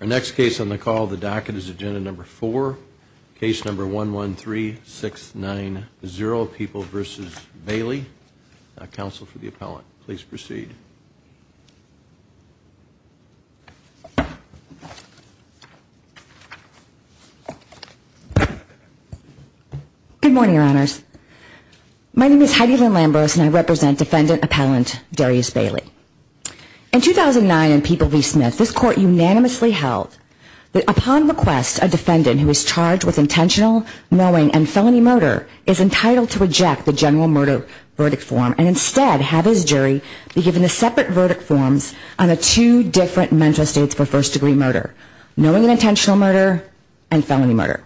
Our next case on the call, the docket, is agenda number 4, case number 113690, People v. Bailey, counsel for the appellant. Please proceed. Good morning, your honors. My name is Heidi Lynn Lambros and I represent defendant appellant Darius Bailey. In 2009 in People v. Smith, this court unanimously held that upon request, a defendant who is charged with intentional, knowing, and felony murder is entitled to reject the general murder verdict form and instead have his jury be given the separate verdict forms on the two different mental states for first degree murder, knowing and intentional murder, and felony murder,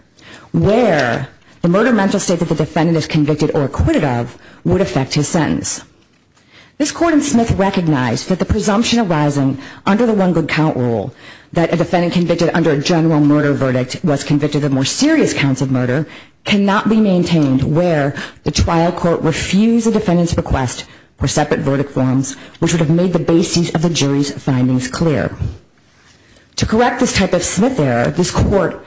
where the murder mental state that the defendant is convicted or acquitted of would affect his sentence. This court in Smith recognized that the presumption arising under the one good count rule that a defendant convicted under a general murder verdict was convicted of more serious counts of murder cannot be maintained where the trial court refused the defendant's request for separate verdict forms which would have made the basis of the jury's findings clear. To correct this type of Smith error, this court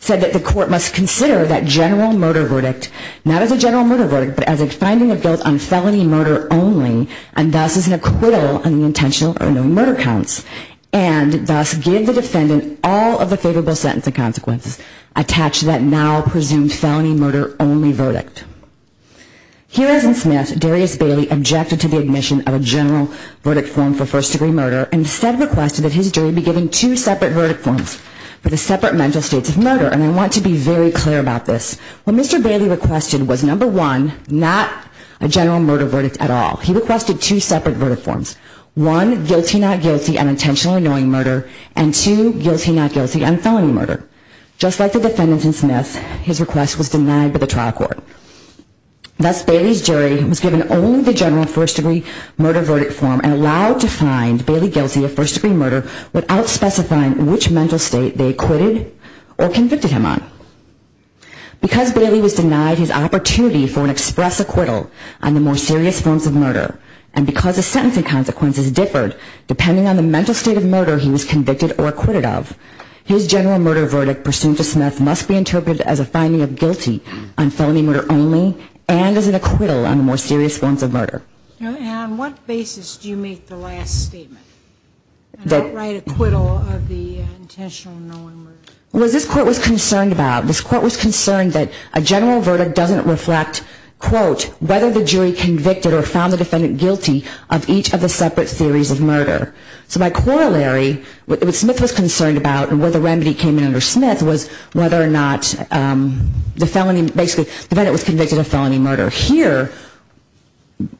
said that the court must consider that general murder verdict not as a general murder verdict but as a finding of guilt on felony murder only and thus as an acquittal on the intentional or knowing murder counts and thus give the defendant all of the favorable sentencing consequences attached to that now presumed felony murder only verdict. Here as in Smith, Darius Bailey objected to the admission of a general verdict form for first degree murder and instead requested that his jury be given two separate verdict forms for the separate mental states of murder and I want to be very clear about this. What Mr. Bailey requested was number one, not a general murder verdict at all. He requested two separate verdict forms. One, guilty not guilty on intentional or knowing murder and two, guilty not guilty on felony murder. Just like the defendant in Smith, his request was denied by the trial court. Thus, Bailey's jury was given only the general first degree murder verdict form and allowed to find Bailey guilty of first degree murder without specifying which mental state they acquitted or convicted him on. Because Bailey was denied his opportunity for an express acquittal on the more serious forms of murder and because the sentencing consequences differed depending on the mental state of murder he was convicted or acquitted of, his general murder verdict pursuant to Smith must be interpreted as a finding of guilty on felony murder only and as an acquittal on the more serious forms of murder. And on what basis do you make the last statement? An outright acquittal of the intentional or knowing murder? What this court was concerned about, this court was concerned that a general verdict doesn't reflect, quote, whether the jury convicted or found the defendant guilty of each of the separate theories of murder. So by corollary, what Smith was concerned about and where the remedy came in under Smith was whether or not the felon basically, the defendant was convicted of felony murder. Here,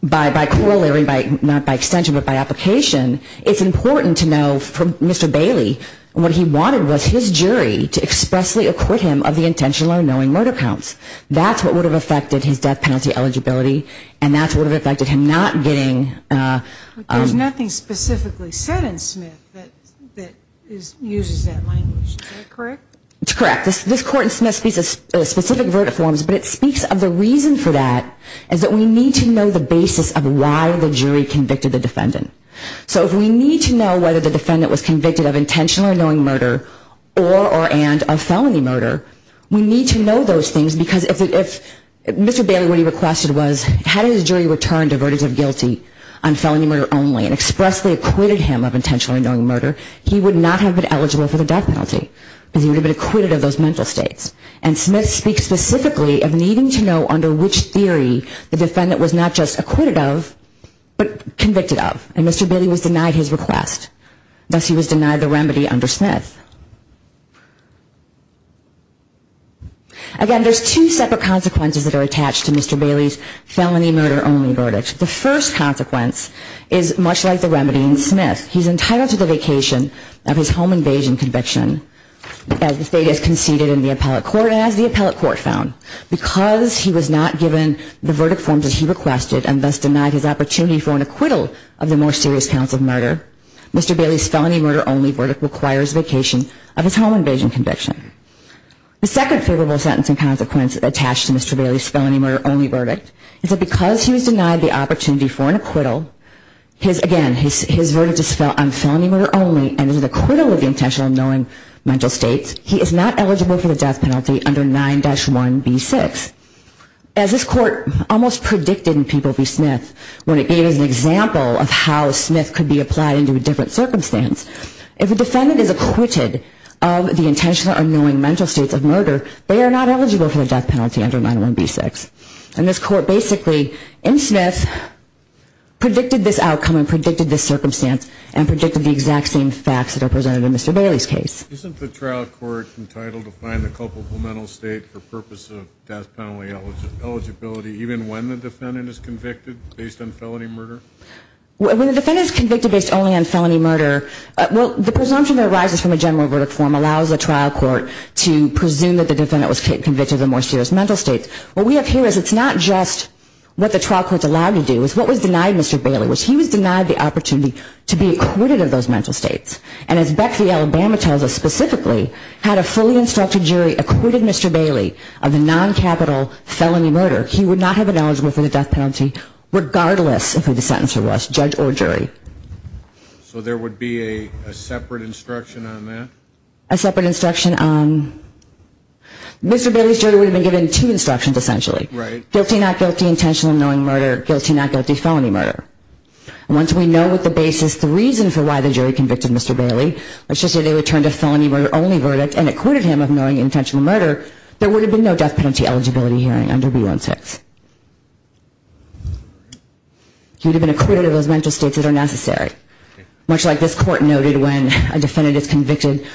by corollary, not by extension, but by application, it's important to know from Mr. Bailey what he wanted was his jury to expressly acquit him of the intentional or knowing murder counts. That's what would have affected his death penalty eligibility and that's what would have affected him not getting... But there's nothing specifically said in Smith that uses that language. Is that correct? It's correct. This court in Smith speaks of specific verdict forms, but it speaks of the reason for that is that we need to know the basis of why the jury convicted the defendant. So if we need to know whether the defendant was convicted of intentional or knowing murder or and of felony murder, we need to know those things because if Mr. Bailey, what he requested was, had his jury returned a verdict of guilty on felony murder only and expressly acquitted him of intentional or knowing murder, he would not have been eligible for the death penalty. Because he would have been acquitted of those mental states. And Smith speaks specifically of needing to know under which theory the defendant was not just acquitted of, but convicted of. And Mr. Bailey was denied his request. Thus, he was denied the remedy under Smith. Again, there's two separate consequences that are attached to Mr. Bailey's felony murder only verdict. The first consequence is much like the remedy in Smith. He's entitled to the vacation of his home invasion conviction as the state has conceded in the appellate court and as the appellate court found. Because he was not given the verdict forms as he requested and thus denied his opportunity for an acquittal of the more serious counts of murder, Mr. Bailey's felony murder only verdict requires vacation of his home invasion conviction. The second favorable sentence and consequence attached to Mr. Bailey's felony murder only verdict is that because he was denied the opportunity for an acquittal, his, again, his verdict is on felony murder only and is an acquittal of the intentional or knowing mental states, he is not eligible for the death penalty under 9-1B6. As this court almost predicted in P. B. Smith when it gave us an example of how Smith could be applied into a different circumstance. If a defendant is acquitted of the intentional or knowing mental states of murder, they are not eligible for the death penalty under 9-1B6. And this court basically, in Smith, predicted this outcome and predicted this circumstance and predicted the exact same facts that are presented in Mr. Bailey's case. Isn't the trial court entitled to find the culpable mental state for purpose of death penalty eligibility even when the defendant is convicted based on felony murder? When the defendant is convicted based only on felony murder, well, the presumption that arises from a general verdict form allows the trial court to presume that the defendant was convicted of the more serious mental states. What we have here is it's not just what the trial court's allowed to do. It's what was denied Mr. Bailey, which he was denied the opportunity to be acquitted of those mental states. And as Beck v. Alabama tells us specifically, had a fully instructed jury acquitted Mr. Bailey of a non-capital felony murder, he would not have been eligible for the death penalty regardless of who the sentencer was, judge or jury. So there would be a separate instruction on that? A separate instruction on... Mr. Bailey's jury would have been given two instructions, essentially. Right. Guilty, not guilty, intentional or knowing murder. Guilty, not guilty, felony murder. And once we know what the basis, the reason for why the jury convicted Mr. Bailey, let's just say they returned a felony murder only verdict and acquitted him of knowing intentional murder, there would have been no death penalty eligibility hearing under B-1-6. He would have been acquitted of those mental states that are necessary. Much like this court noted when a defendant is convicted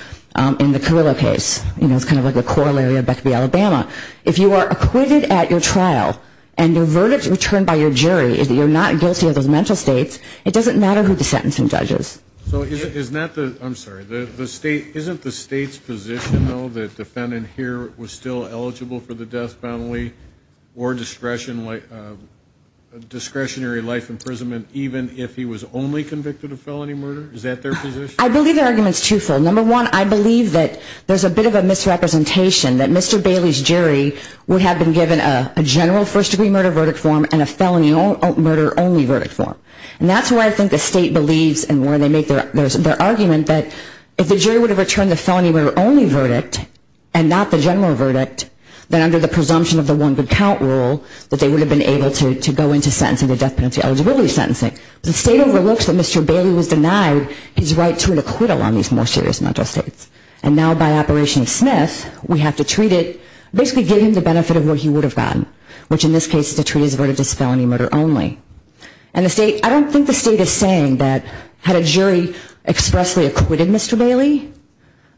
in the Carrillo case. You know, it's kind of like the corollary of Beck v. Alabama. If you are acquitted at your trial and your verdict is returned by your jury, you're not guilty of those mental states, it doesn't matter who the sentencing judge is. So isn't the state's position, though, that the defendant here was still eligible for the death penalty or discretionary life imprisonment even if he was only convicted of felony murder? Is that their position? I believe their argument is twofold. Number one, I believe that there's a bit of a misrepresentation that Mr. Bailey's jury would have been given a general first-degree murder verdict form and a felony murder only verdict form. And that's why I think the state believes in where they make their argument that if the jury would have returned the felony murder only verdict and not the general verdict, then under the presumption of the one good count rule, that they would have been able to go into death penalty eligibility sentencing. The state overlooks that Mr. Bailey was denied his right to an acquittal on these more serious mental states. And now by Operation Smith, we have to treat it, basically give him the benefit of what he would have gotten, which in this case is to treat his verdict as felony murder only. And the state, I don't think the state is saying that had a jury expressly acquitted Mr. Bailey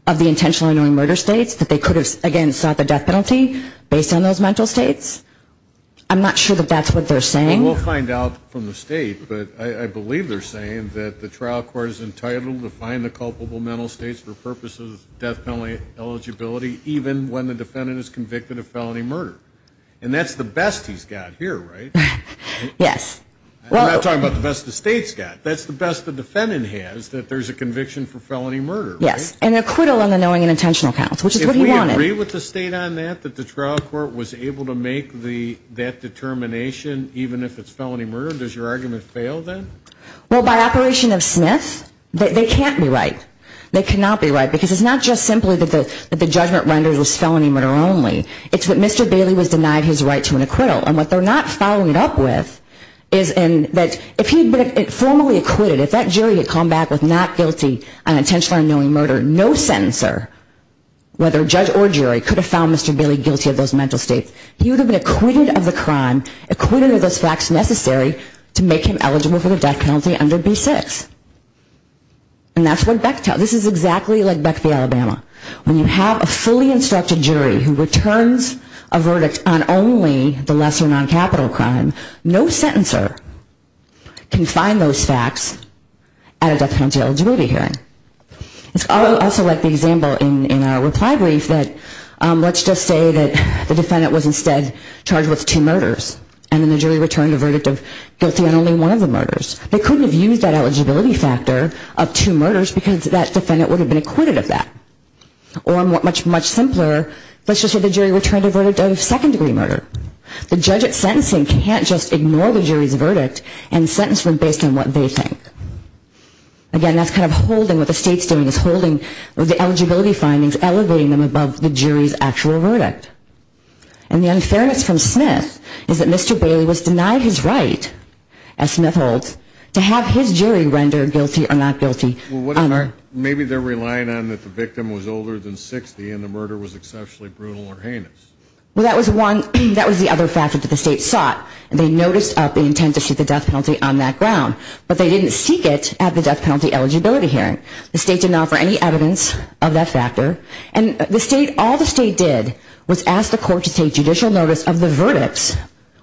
of the intentionally murder states that they could have, again, sought the death penalty based on those mental states. I'm not sure that that's what they're saying. We'll find out from the state, but I believe they're saying that the trial court is entitled to find the culpable mental states for purposes of death penalty eligibility even when the defendant is convicted of felony murder. And that's the best he's got here, right? Yes. I'm not talking about the best the state's got. That's the best the defendant has, that there's a conviction for felony murder, right? Yes, and an acquittal on the knowing and intentional counts, which is what he wanted. Do you agree with the state on that, that the trial court was able to make that determination even if it's felony murder? Does your argument fail then? Well, by operation of Smith, they can't be right. They cannot be right because it's not just simply that the judgment rendered was felony murder only. It's that Mr. Bailey was denied his right to an acquittal. And what they're not following it up with is that if he had been formally acquitted, if that jury had come back with not guilty on intentionally unknowing murder, no sentencer, whether judge or jury, could have found Mr. Bailey guilty of those mental states, he would have been acquitted of the crime, acquitted of those facts necessary to make him eligible for the death penalty under B-6. And that's what Beck tells. This is exactly like Beck v. Alabama. When you have a fully instructed jury who returns a verdict on only the lesser noncapital crime, no sentencer can find those facts at a death penalty eligibility hearing. It's also like the example in our reply brief that let's just say that the defendant was instead charged with two murders and then the jury returned a verdict of guilty on only one of the murders. They couldn't have used that eligibility factor of two murders because that defendant would have been acquitted of that. Or much, much simpler, let's just say the jury returned a verdict of second-degree murder. The judge at sentencing can't just ignore the jury's verdict and sentence them based on what they think. Again, that's kind of holding what the state's doing, is holding the eligibility findings, elevating them above the jury's actual verdict. And the unfairness from Smith is that Mr. Bailey was denied his right, as Smith holds, to have his jury render guilty or not guilty. Maybe they're relying on that the victim was older than 60 and the murder was exceptionally brutal or heinous. Well, that was the other factor that the state sought. They noticed the intent to shoot the death penalty on that ground, but they didn't seek it at the death penalty eligibility hearing. The state did not offer any evidence of that factor. And the state, all the state did was ask the court to take judicial notice of the verdicts,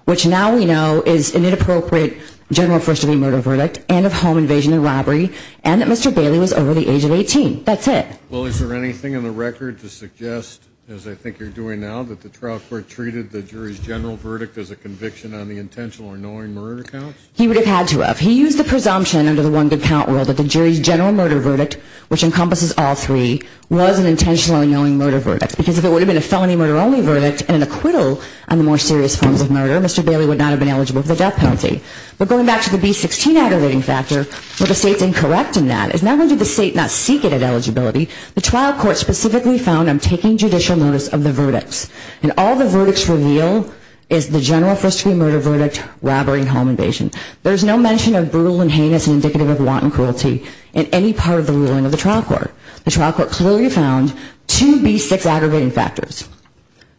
which now we know is an inappropriate general first-degree murder verdict and of home invasion and robbery, and that Mr. Bailey was over the age of 18. That's it. Well, is there anything in the record to suggest, as I think you're doing now, that the trial court treated the jury's general verdict as a conviction on the intentional or knowing murder counts? He would have had to have. He used the presumption under the one good count rule that the jury's general murder verdict, which encompasses all three, was an intentionally knowing murder verdict because if it would have been a felony murder only verdict and an acquittal on the more serious forms of murder, Mr. Bailey would not have been eligible for the death penalty. But going back to the B-16 aggravating factor, what the state's incorrect in that is not only did the state not seek it at eligibility, the trial court specifically found him taking judicial notice of the verdicts. And all the verdicts reveal is the general first-degree murder verdict, robbery, and home invasion. There's no mention of brutal and heinous and indicative of wanton cruelty in any part of the ruling of the trial court. The trial court clearly found two B-6 aggravating factors,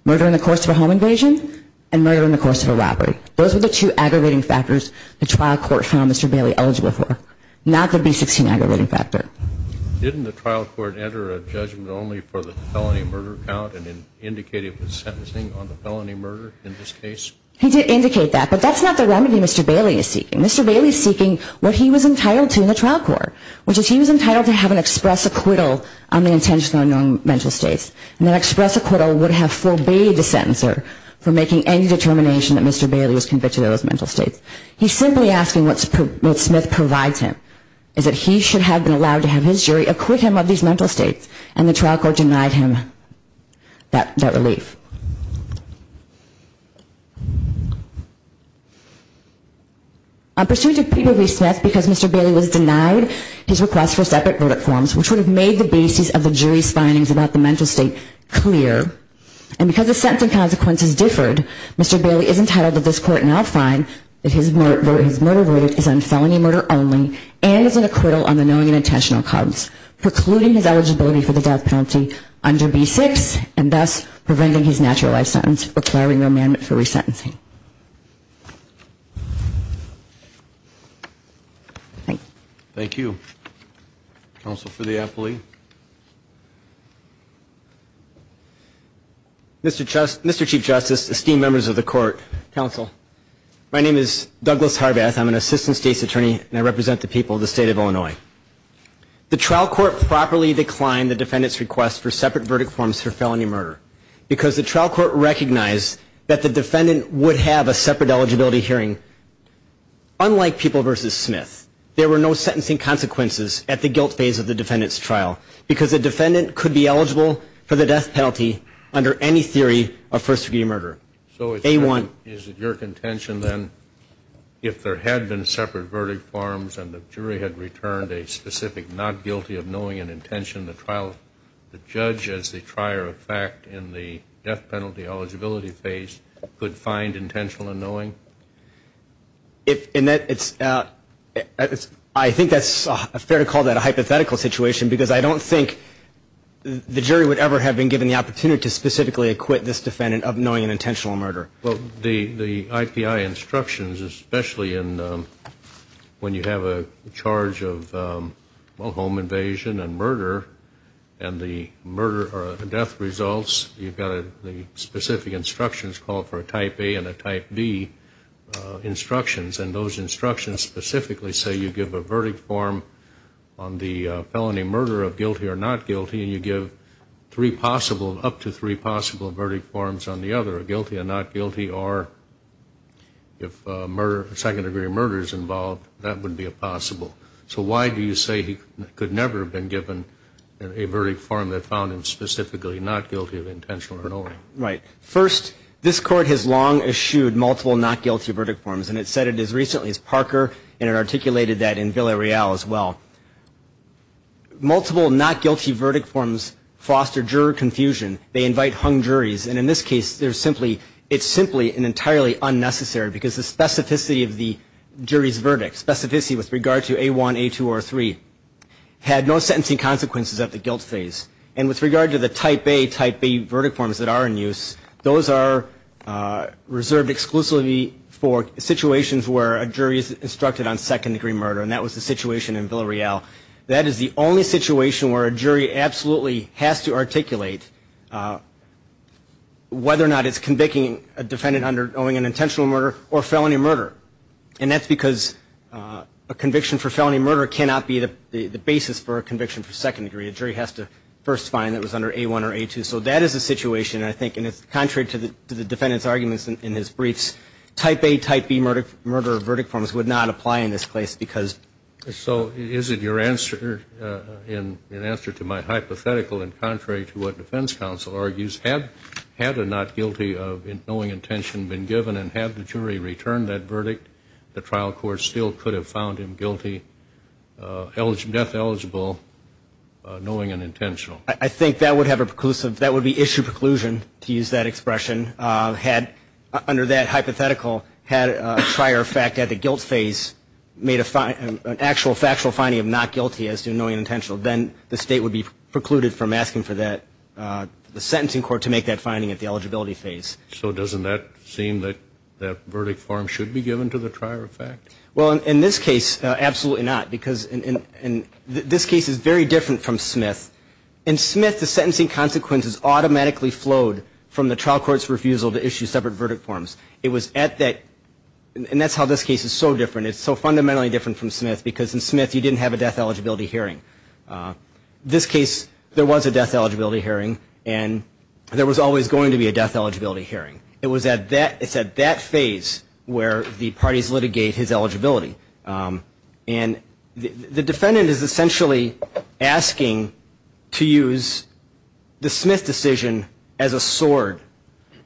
murder in the course of a home invasion and murder in the course of a robbery. Those were the two aggravating factors the trial court found Mr. Bailey eligible for, not the B-16 aggravating factor. Didn't the trial court enter a judgment only for the felony murder count and indicate it was sentencing on the felony murder in this case? He did indicate that, but that's not the remedy Mr. Bailey is seeking. Mr. Bailey is seeking what he was entitled to in the trial court, which is he was entitled to have an express acquittal on the intentional and unknown mental states. And that express acquittal would have forbade the sentencer from making any determination that Mr. Bailey was convicted of those mental states. He's simply asking what Smith provides him, is that he should have been allowed to have his jury acquit him of these mental states. And the trial court denied him that relief. A pursuit of Peter B. Smith because Mr. Bailey was denied his request for separate verdict forms, which would have made the basis of the jury's findings about the mental state clear. And because the sentencing consequences differed, Mr. Bailey is entitled to this court now find that his murder verdict is on felony murder only and is an acquittal on the knowing and intentional counts, precluding his eligibility for the death penalty under B6 and thus preventing his naturalized sentence requiring remandment for resentencing. Thank you. Counsel for the appellee. Mr. Chief Justice, esteemed members of the court, counsel, my name is Douglas Harbath, I'm an assistant state's attorney and I represent the people of the state of Illinois. The trial court properly declined the defendant's request for separate verdict forms for felony murder because the trial court recognized that the defendant would have a separate eligibility hearing unlike people versus Smith. There were no sentencing consequences at the guilt phase of the defendant's trial because the defendant could be eligible for the death penalty under any theory of first degree murder. A-1. So is it your contention then if there had been separate verdict forms and the jury had returned a specific not guilty of knowing and intention, the trial, the judge as the trier of fact in the death penalty eligibility phase could find intentional and knowing? In that it's, I think that's fair to call that a hypothetical situation because I don't think the jury would ever have been given the opportunity to specifically acquit this defendant of knowing an intentional murder. Well, the IPI instructions, especially when you have a charge of home invasion and murder and the murder or death results, you've got the specific instructions called for a type A and a type B instructions and those instructions specifically say you give a verdict form on the felony murder of guilty or not guilty and you give three possible, up to three possible verdict forms on the other, guilty or not guilty or if murder, second degree murder is involved, that would be a possible. So why do you say he could never have been given a verdict form that found him specifically not guilty of intentional murder? Right. First, this Court has long eschewed multiple not guilty verdict forms and it said it as recently as Parker and it articulated that in Villareal as well. Multiple not guilty verdict forms foster juror confusion. They invite hung juries and in this case it's simply and entirely unnecessary because the specificity of the jury's verdict, specificity with regard to A1, A2 or A3, had no sentencing consequences at the guilt phase. And with regard to the type A, type B verdict forms that are in use, those are reserved exclusively for situations where a jury is instructed on second degree murder and that was the situation in Villareal. That is the only situation where a jury absolutely has to articulate whether or not it's convicting a defendant owing an intentional murder or felony murder and that's because a conviction for felony murder cannot be the basis for a conviction for second degree. A jury has to first find that it was under A1 or A2. So that is the situation I think and it's contrary to the defendant's arguments in his briefs. Type A, type B murder verdict forms would not apply in this case because. So is it your answer in answer to my hypothetical and contrary to what defense counsel argues, had a not guilty of knowing intention been given and had the jury returned that verdict, the trial court still could have found him guilty, death eligible, knowing an intentional. I think that would have a preclusive, that would be issue preclusion to use that expression. Had under that hypothetical had a prior fact at the guilt phase made an actual factual finding of not guilty as to knowing an intentional, then the state would be precluded from asking for that, the sentencing court to make that finding at the eligibility phase. So doesn't that seem that that verdict form should be given to the prior fact? Well, in this case, absolutely not. Because this case is very different from Smith. In Smith the sentencing consequences automatically flowed from the trial court's refusal to issue separate verdict forms. It was at that, and that's how this case is so different. It's so fundamentally different from Smith because in Smith you didn't have a death eligibility hearing. This case there was a death eligibility hearing and there was always going to be a death eligibility hearing. It was at that, it's at that phase where the parties litigate his eligibility. And the defendant is essentially asking to use the Smith decision as a sword.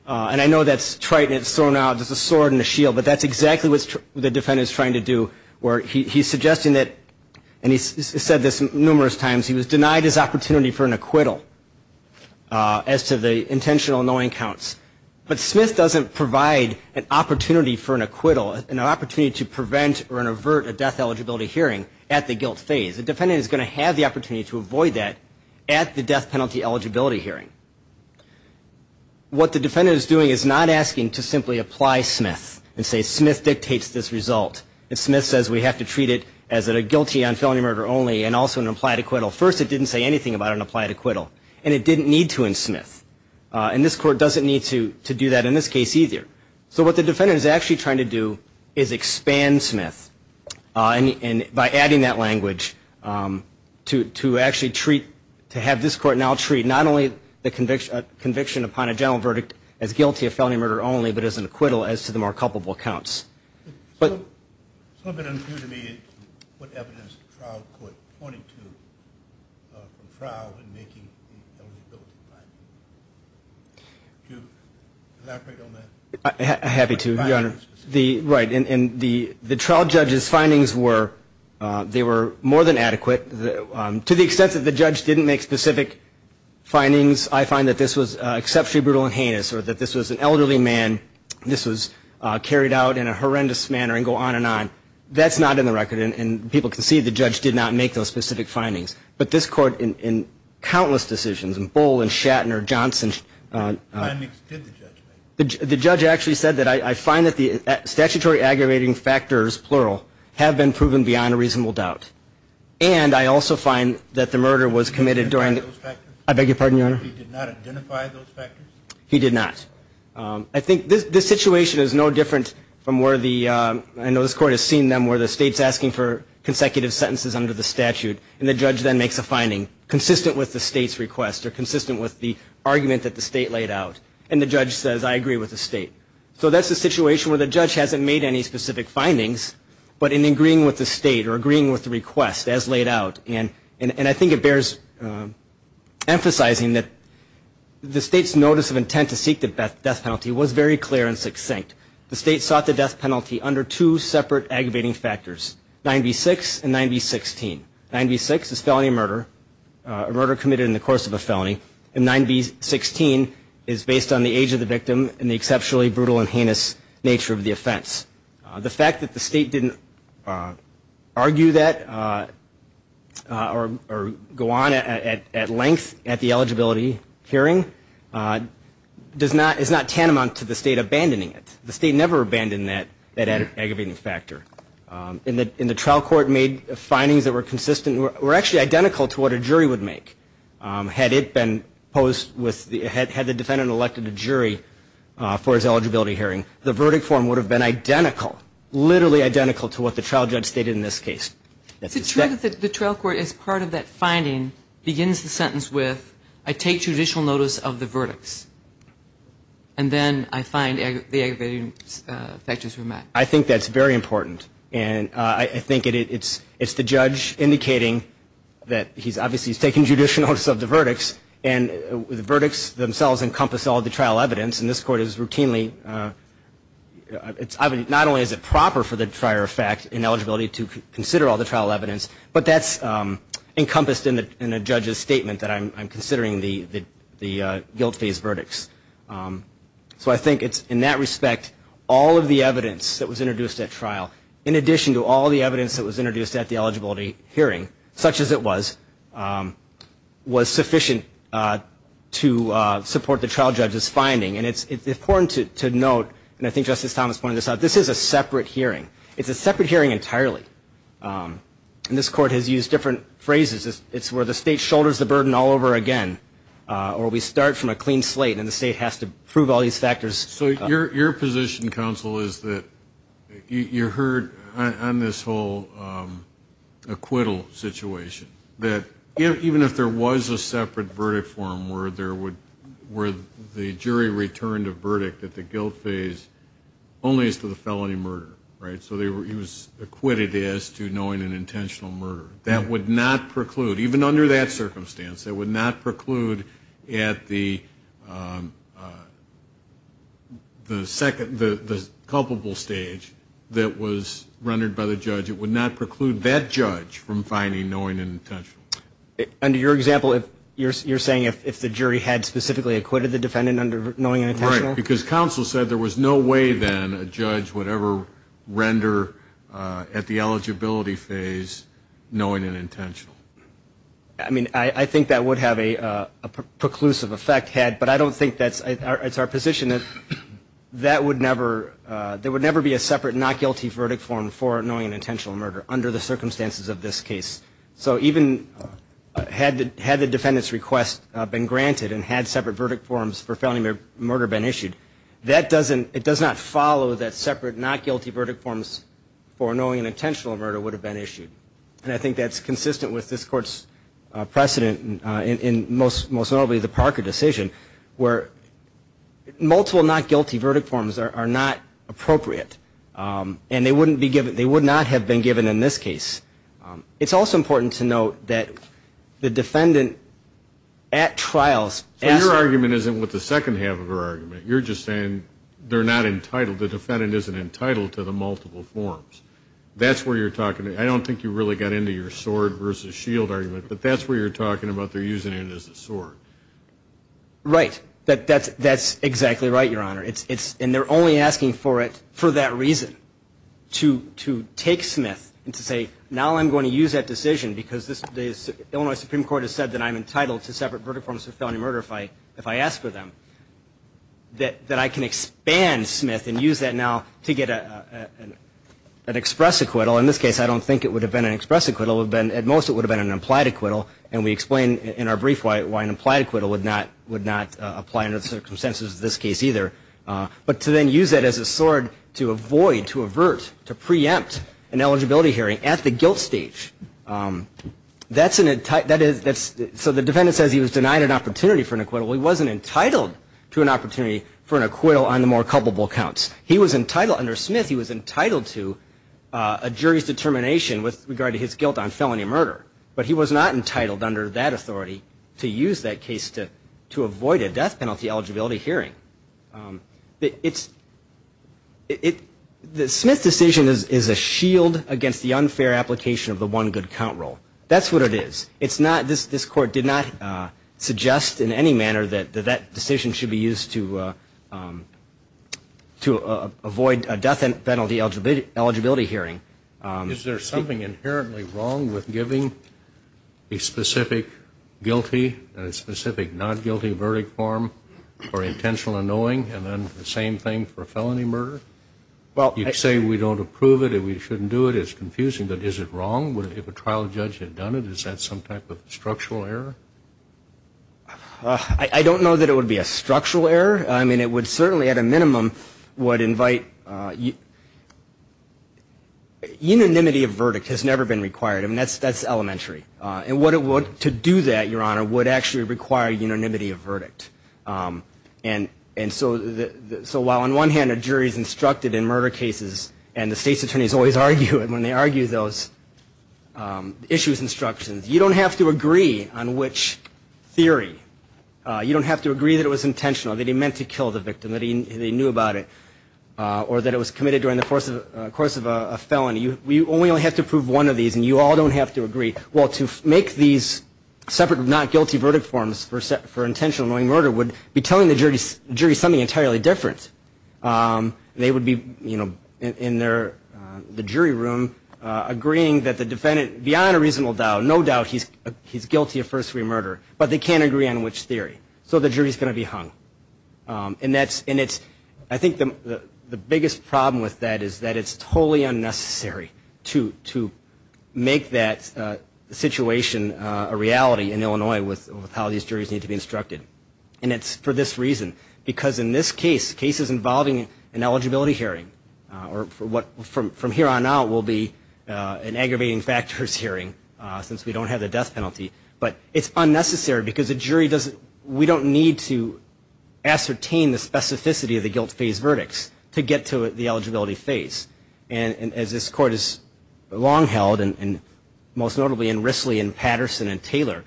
And I know that's trite and it's thrown out as a sword and a shield, but that's exactly what the defendant is trying to do where he's suggesting that, and he's said this numerous times, he was denied his opportunity for an acquittal as to the intentional knowing counts. But Smith doesn't provide an opportunity for an acquittal, an opportunity to prevent or avert a death eligibility hearing at the guilt phase. The defendant is going to have the opportunity to avoid that at the death penalty eligibility hearing. What the defendant is doing is not asking to simply apply Smith and say Smith dictates this result, and Smith says we have to treat it as a guilty on felony murder only and also an applied acquittal. First it didn't say anything about an applied acquittal, and it didn't need to in Smith. And this court doesn't need to do that in this case either. So what the defendant is actually trying to do is expand Smith by adding that language to actually treat, to have this court now treat not only the conviction upon a general verdict as guilty of felony murder only, but as an acquittal as to the more culpable counts. It's a little bit unclear to me what evidence the trial court pointed to from trial in making the eligibility findings. Could you elaborate on that? I'm happy to, Your Honor. And the trial judge's findings were, they were more than adequate. To the extent that the judge didn't make specific findings, I find that this was exceptionally brutal and heinous, or that this was an elderly man, this was carried out in a horrendous manner and go on and on. That's not in the record. And people can see the judge did not make those specific findings. But this court in countless decisions, in Bull and Shatner, Johnson. What findings did the judge make? The judge actually said that I find that the statutory aggravating factors, plural, have been proven beyond a reasonable doubt. And I also find that the murder was committed during. Did he identify those factors? I beg your pardon, Your Honor. Did he not identify those factors? He did not. I think this situation is no different from where the, I know this court has seen them, where the state's asking for consecutive sentences under the statute, and the judge then makes a finding consistent with the state's request or consistent with the argument that the state laid out. And the judge says, I agree with the state. So that's a situation where the judge hasn't made any specific findings, but in agreeing with the state or agreeing with the request as laid out. And I think it bears emphasizing that the state's notice of intent to seek the death penalty was very clear and succinct. The state sought the death penalty under two separate aggravating factors, 9B6 and 9B16. 9B6 is felony murder, a murder committed in the course of a felony. And 9B16 is based on the age of the victim and the exceptionally brutal and heinous nature of the offense. The fact that the state didn't argue that or go on at length at the eligibility hearing is not tantamount to the state abandoning it. The state never abandoned that aggravating factor. And the trial court made findings that were consistent, were actually identical to what a jury would make. Had it been posed with, had the defendant elected a jury for his eligibility hearing, the verdict form would have been identical, literally identical to what the trial judge stated in this case. The trial court, as part of that finding, begins the sentence with, I take judicial notice of the verdicts. And then I find the aggravating factors were met. I think that's very important. And I think it's the judge indicating that he's obviously taking judicial notice of the verdicts, and the verdicts themselves encompass all of the trial evidence. And this court is routinely, not only is it proper for the prior fact ineligibility to consider all the trial evidence, but that's encompassed in a judge's statement that I'm considering the guilt phase verdicts. So I think it's in that respect, all of the evidence that was introduced at trial, in addition to all the evidence that was introduced at the eligibility hearing, such as it was, was sufficient to support the trial judge's finding. And it's important to note, and I think Justice Thomas pointed this out, this is a separate hearing. It's a separate hearing entirely. And this court has used different phrases. It's where the state shoulders the burden all over again, or we start from a clean slate, and the state has to prove all these factors. So your position, counsel, is that you heard on this whole acquittal situation, that even if there was a separate verdict forum where the jury returned a verdict at the guilt phase, only as to the felony murder, right, so he was acquitted as to knowing an intentional murder. That would not preclude, even under that circumstance, it would not preclude at the second, the culpable stage that was rendered by the judge. It would not preclude that judge from finding knowing an intentional. Under your example, you're saying if the jury had specifically acquitted the defendant under knowing an intentional? Right, because counsel said there was no way then a judge would ever render at the eligibility phase knowing an intentional. I mean, I think that would have a preclusive effect, but I don't think that's our position. That would never be a separate not guilty verdict forum for knowing an intentional murder under the circumstances of this case. So even had the defendant's request been granted and had separate verdict forums for felony murder been issued, it does not follow that separate not guilty verdict forums for knowing an intentional murder would have been issued. And I think that's consistent with this Court's precedent, and most notably the Parker decision, where multiple not guilty verdict forums are not appropriate, and they would not have been given in this case. It's also important to note that the defendant at trials. So your argument isn't with the second half of her argument. You're just saying they're not entitled, the defendant isn't entitled to the multiple forums. That's where you're talking. I don't think you really got into your sword versus shield argument, but that's where you're talking about they're using it as a sword. Right. That's exactly right, Your Honor. And they're only asking for it for that reason, to take Smith and to say now I'm going to use that decision because the Illinois Supreme Court has said that I'm entitled to separate verdict forums for felony murder if I ask for them, that I can expand Smith and use that now to get an express acquittal. In this case, I don't think it would have been an express acquittal. At most it would have been an implied acquittal, and we explain in our brief why an implied acquittal would not apply under the circumstances of this case either. But to then use that as a sword to avoid, to avert, to preempt an eligibility hearing at the guilt stage, that's an, so the defendant says he was denied an opportunity for an acquittal. He wasn't entitled to an opportunity for an acquittal on the more culpable counts. He was entitled, under Smith, he was entitled to a jury's determination with regard to his guilt on felony murder, but he was not entitled under that authority to use that case to avoid a death penalty eligibility hearing. It's, the Smith decision is a shield against the unfair application of the one good count rule. That's what it is. It's not, this Court did not suggest in any manner that that decision should be used to avoid a death penalty eligibility hearing. Is there something inherently wrong with giving a specific guilty, and a specific not guilty verdict form for intentional annoying, and then the same thing for a felony murder? You say we don't approve it, and we shouldn't do it. It's confusing, but is it wrong if a trial judge had done it? Is that some type of structural error? I don't know that it would be a structural error. I mean, it would certainly, at a minimum, would invite, unanimity of verdict has never been required. I mean, that's elementary. And what it would, to do that, Your Honor, would actually require unanimity of verdict. And so while on one hand a jury is instructed in murder cases, and the state's attorneys always argue it when they argue those issues instructions, you don't have to agree on which theory. You don't have to agree that it was intentional, that he meant to kill the victim, that he knew about it, or that it was committed during the course of a felony. You only have to approve one of these, and you all don't have to agree. Well, to make these separate not guilty verdict forms for intentional annoying murder would be telling the jury something entirely different. They would be, you know, in the jury room agreeing that the defendant, beyond a reasonable doubt, no doubt he's guilty of first degree murder, but they can't agree on which theory. So the jury's going to be hung. And I think the biggest problem with that is that it's totally unnecessary to make that situation a reality in Illinois with how these juries need to be instructed. And it's for this reason, because in this case, cases involving an eligibility hearing, or from here on out will be an aggravating factors hearing since we don't have the death penalty. But it's unnecessary because the jury doesn't, we don't need to ascertain the specificity of the guilt phase verdicts to get to the eligibility phase. And as this court has long held, and most notably in Risley and Patterson and Taylor,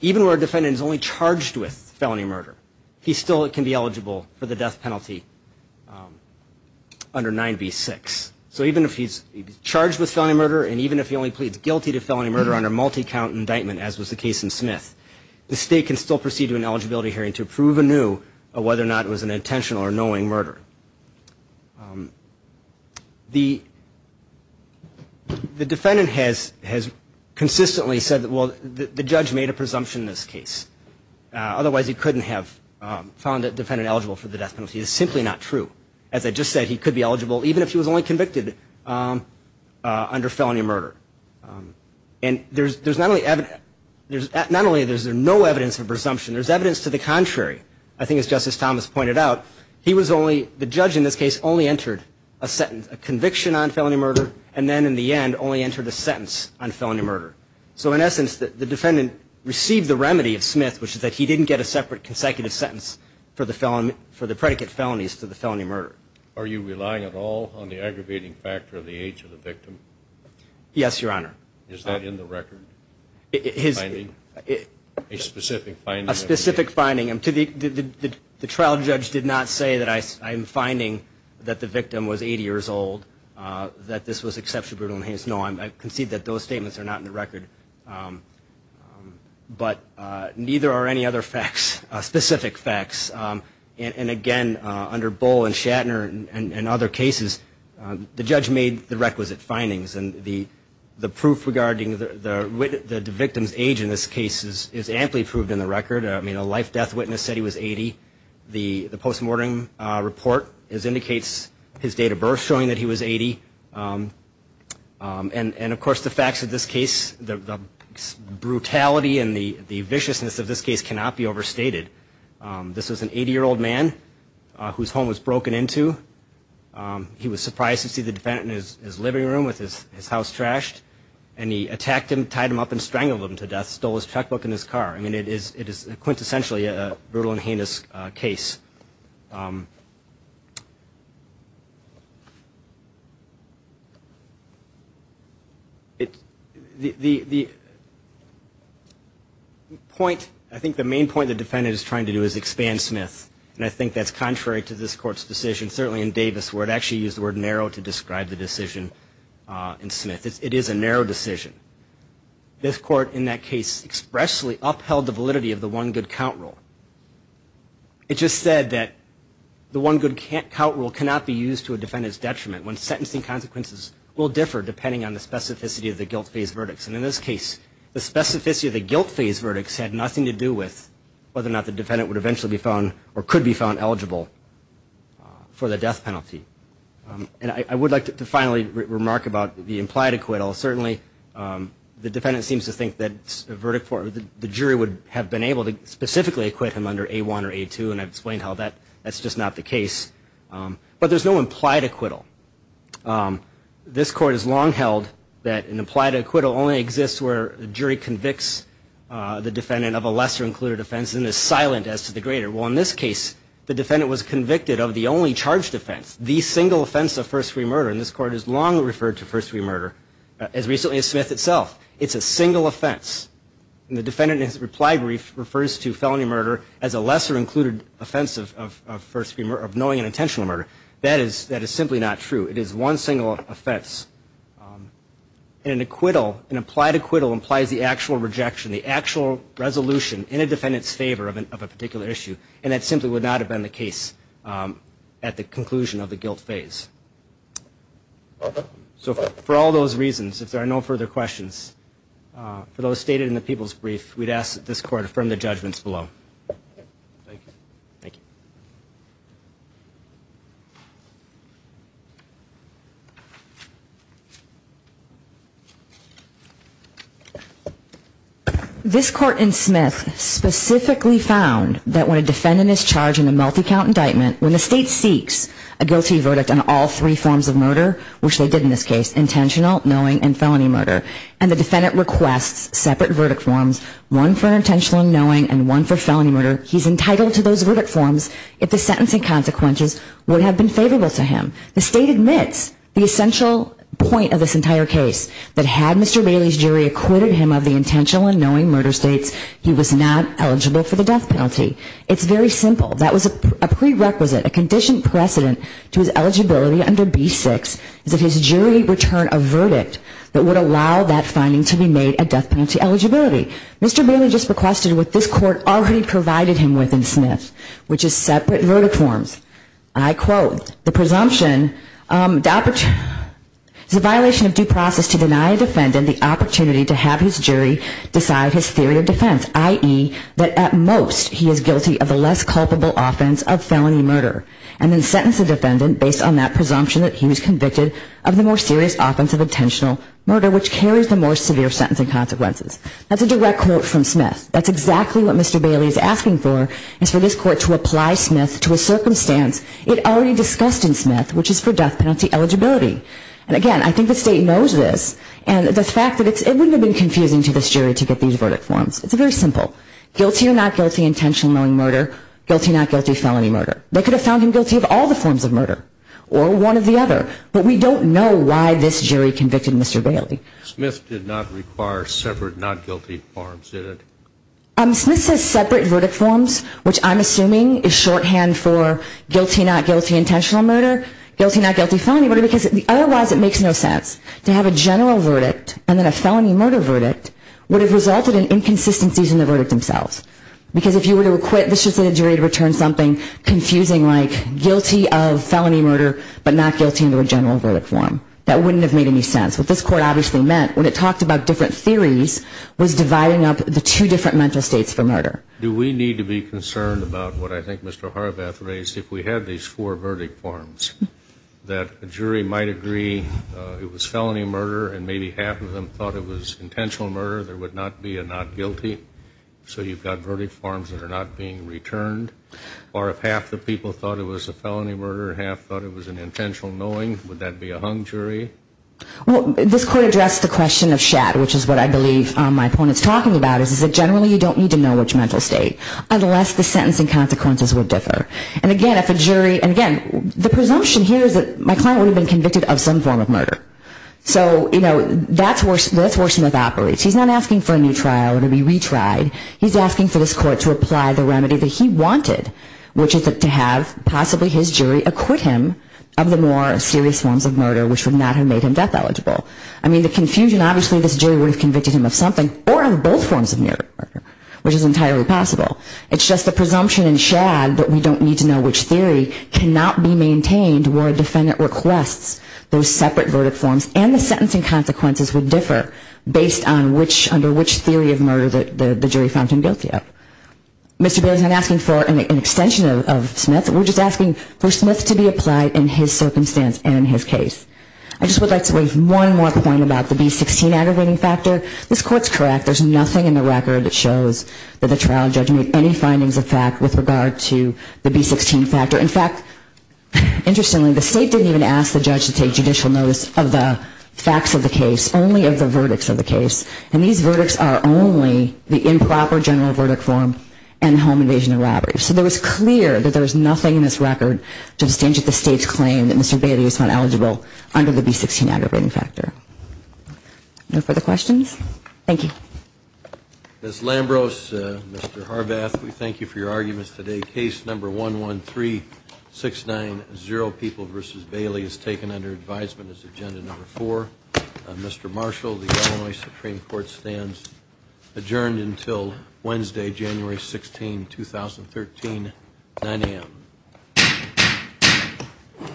even where a defendant is only charged with felony murder, he still can be eligible for the death penalty under 9b-6. So even if he's charged with felony murder, and even if he only pleads guilty to felony murder under multi-count indictment, as was the case in Smith, the state can still proceed to an eligibility hearing to prove anew whether or not it was an intentional or knowing murder. The defendant has consistently said, well, the judge made a presumption in this case. Otherwise he couldn't have found a defendant eligible for the death penalty. It's simply not true. As I just said, he could be eligible even if he was only convicted under felony murder. And there's not only evidence, not only is there no evidence of presumption, there's evidence to the contrary. I think as Justice Thomas pointed out, he was only, the judge in this case, only entered a conviction on felony murder, and then in the end only entered a sentence on felony murder. So in essence, the defendant received the remedy of Smith, which is that he didn't get a separate consecutive sentence for the predicate felonies to the felony murder. Are you relying at all on the aggravating factor of the age of the victim? Yes, Your Honor. Is that in the record? A specific finding? A specific finding. The trial judge did not say that I'm finding that the victim was 80 years old, that this was exceptionally brutal. No, I concede that those statements are not in the record. But neither are any other facts, specific facts. And again, under Bull and Shatner and other cases, the judge made the requisite findings. And the proof regarding the victim's age in this case is amply proved in the record. I mean, a life-death witness said he was 80. The post-mortem report indicates his date of birth, showing that he was 80. And, of course, the facts of this case, the brutality and the viciousness of this case cannot be overstated. This was an 80-year-old man whose home was broken into. He was surprised to see the defendant in his living room with his house trashed. And he attacked him, tied him up, and strangled him to death, stole his checkbook and his car. I mean, it is quintessentially a brutal and heinous case. The point, I think the main point the defendant is trying to do is expand Smith. And I think that's contrary to this Court's decision, certainly in Davis, where it actually used the word narrow to describe the decision in Smith. It is a narrow decision. This Court, in that case, expressly upheld the validity of the one good count rule. It just said that the one good count rule cannot be used to a defendant's detriment. When sentencing consequences will differ depending on the specificity of the guilt phase verdicts. And in this case, the specificity of the guilt phase verdicts had nothing to do with whether or not the defendant would eventually be found or could be found eligible for the death penalty. And I would like to finally remark about the implied acquittal. Certainly, the defendant seems to think that the jury would have been able to specifically acquit him under A1 or A2, and I've explained how that's just not the case. But there's no implied acquittal. This Court has long held that an implied acquittal only exists where the jury convicts the defendant of a lesser-included offense and is silent as to the greater. Well, in this case, the defendant was convicted of the only charged offense, the single offense of first-degree murder. And this Court has long referred to first-degree murder, as recently as Smith itself. It's a single offense. And the defendant in his reply brief refers to felony murder as a lesser-included offense of first-degree murder, of knowing and intentional murder. That is simply not true. It is one single offense. And an acquittal, an implied acquittal, implies the actual rejection, the actual resolution in a defendant's favor of a particular issue, and that simply would not have been the case at the conclusion of the guilt phase. So for all those reasons, if there are no further questions, for those stated in the people's brief, we'd ask that this Court affirm the judgments below. Thank you. Thank you. This Court in Smith specifically found that when a defendant is charged in a multi-count indictment, when the State seeks a guilty verdict on all three forms of murder, which they did in this case, intentional, knowing, and felony murder, and the defendant requests separate verdict forms, one for intentional and knowing and one for felony murder, he's entitled to those verdict forms if the sentencing consequences would have been favorable to him. The State admits the essential point of this entire case, that had Mr. Bailey's jury acquitted him of the intentional and knowing murder states, he was not eligible for the death penalty. It's very simple. That was a prerequisite, a conditioned precedent to his eligibility under B-6, is that his jury return a verdict that would allow that finding to be made a death penalty eligibility. Mr. Bailey just requested what this Court already provided him with in Smith, which is separate verdict forms. I quote, the presumption is a violation of due process to deny a defendant the opportunity to have his jury decide his theory of defense, i.e., that at most he is guilty of the less culpable offense of felony murder, and then sentence the defendant based on that presumption that he was convicted of the more serious offense of intentional murder, which carries the more severe sentencing consequences. That's a direct quote from Smith. That's exactly what Mr. Bailey is asking for, is for this Court to apply Smith to a circumstance it already discussed in Smith, which is for death penalty eligibility. And again, I think the State knows this, and the fact that it wouldn't have been confusing to this jury to get these verdict forms. It's very simple. Guilty or not guilty of intentional murder, guilty or not guilty of felony murder. They could have found him guilty of all the forms of murder, or one or the other, but we don't know why this jury convicted Mr. Bailey. Smith did not require separate not guilty forms, did it? Smith says separate verdict forms, which I'm assuming is shorthand for guilty or not guilty of intentional murder, guilty or not guilty of felony murder, because otherwise it makes no sense to have a general verdict and then a felony murder verdict would have resulted in inconsistencies in the verdict themselves. Because if you were to acquit, this should send a jury to return something confusing like guilty of felony murder but not guilty under a general verdict form. That wouldn't have made any sense. What this Court obviously meant when it talked about different theories was dividing up the two different mental states for murder. Do we need to be concerned about what I think Mr. Horvath raised if we had these four verdict forms, that a jury might agree it was felony murder and maybe half of them thought it was intentional murder, there would not be a not guilty, so you've got verdict forms that are not being returned? Or if half the people thought it was a felony murder and half thought it was an intentional knowing, would that be a hung jury? Well, this Court addressed the question of shad, which is what I believe my opponent is talking about, is that generally you don't need to know which mental state, unless the sentencing consequences would differ. And again, if a jury, and again, the presumption here is that my client would have been convicted of some form of murder. So, you know, that's where Smith operates. He's not asking for a new trial or to be retried. He's asking for this Court to apply the remedy that he wanted, which is to have possibly his jury acquit him of the more serious forms of murder which would not have made him death eligible. I mean, the confusion, obviously this jury would have convicted him of something or of both forms of murder, which is entirely possible. It's just the presumption in shad that we don't need to know which theory cannot be maintained where a defendant requests those separate verdict forms and the sentencing consequences would differ based on which, under which theory of murder the jury found him guilty of. Mr. Bailey's not asking for an extension of Smith. We're just asking for Smith to be applied in his circumstance and in his case. I just would like to make one more point about the B-16 aggregating factor. This Court's correct. There's nothing in the record that shows that the trial judge made any findings of fact with regard to the B-16 factor. In fact, interestingly, the State didn't even ask the judge to take judicial notice of the facts of the case, only of the verdicts of the case. And these verdicts are only the improper general verdict form and home invasion and robbery. So it was clear that there was nothing in this record to stand to the State's claim that Mr. Bailey is found eligible under the B-16 aggregating factor. No further questions? Thank you. Ms. Lambros, Mr. Harvath, we thank you for your arguments today. Case number 113690, People v. Bailey, is taken under advisement as Agenda Number 4. Mr. Marshall, the Illinois Supreme Court stands adjourned until Wednesday, January 16, 2013, 9 a.m.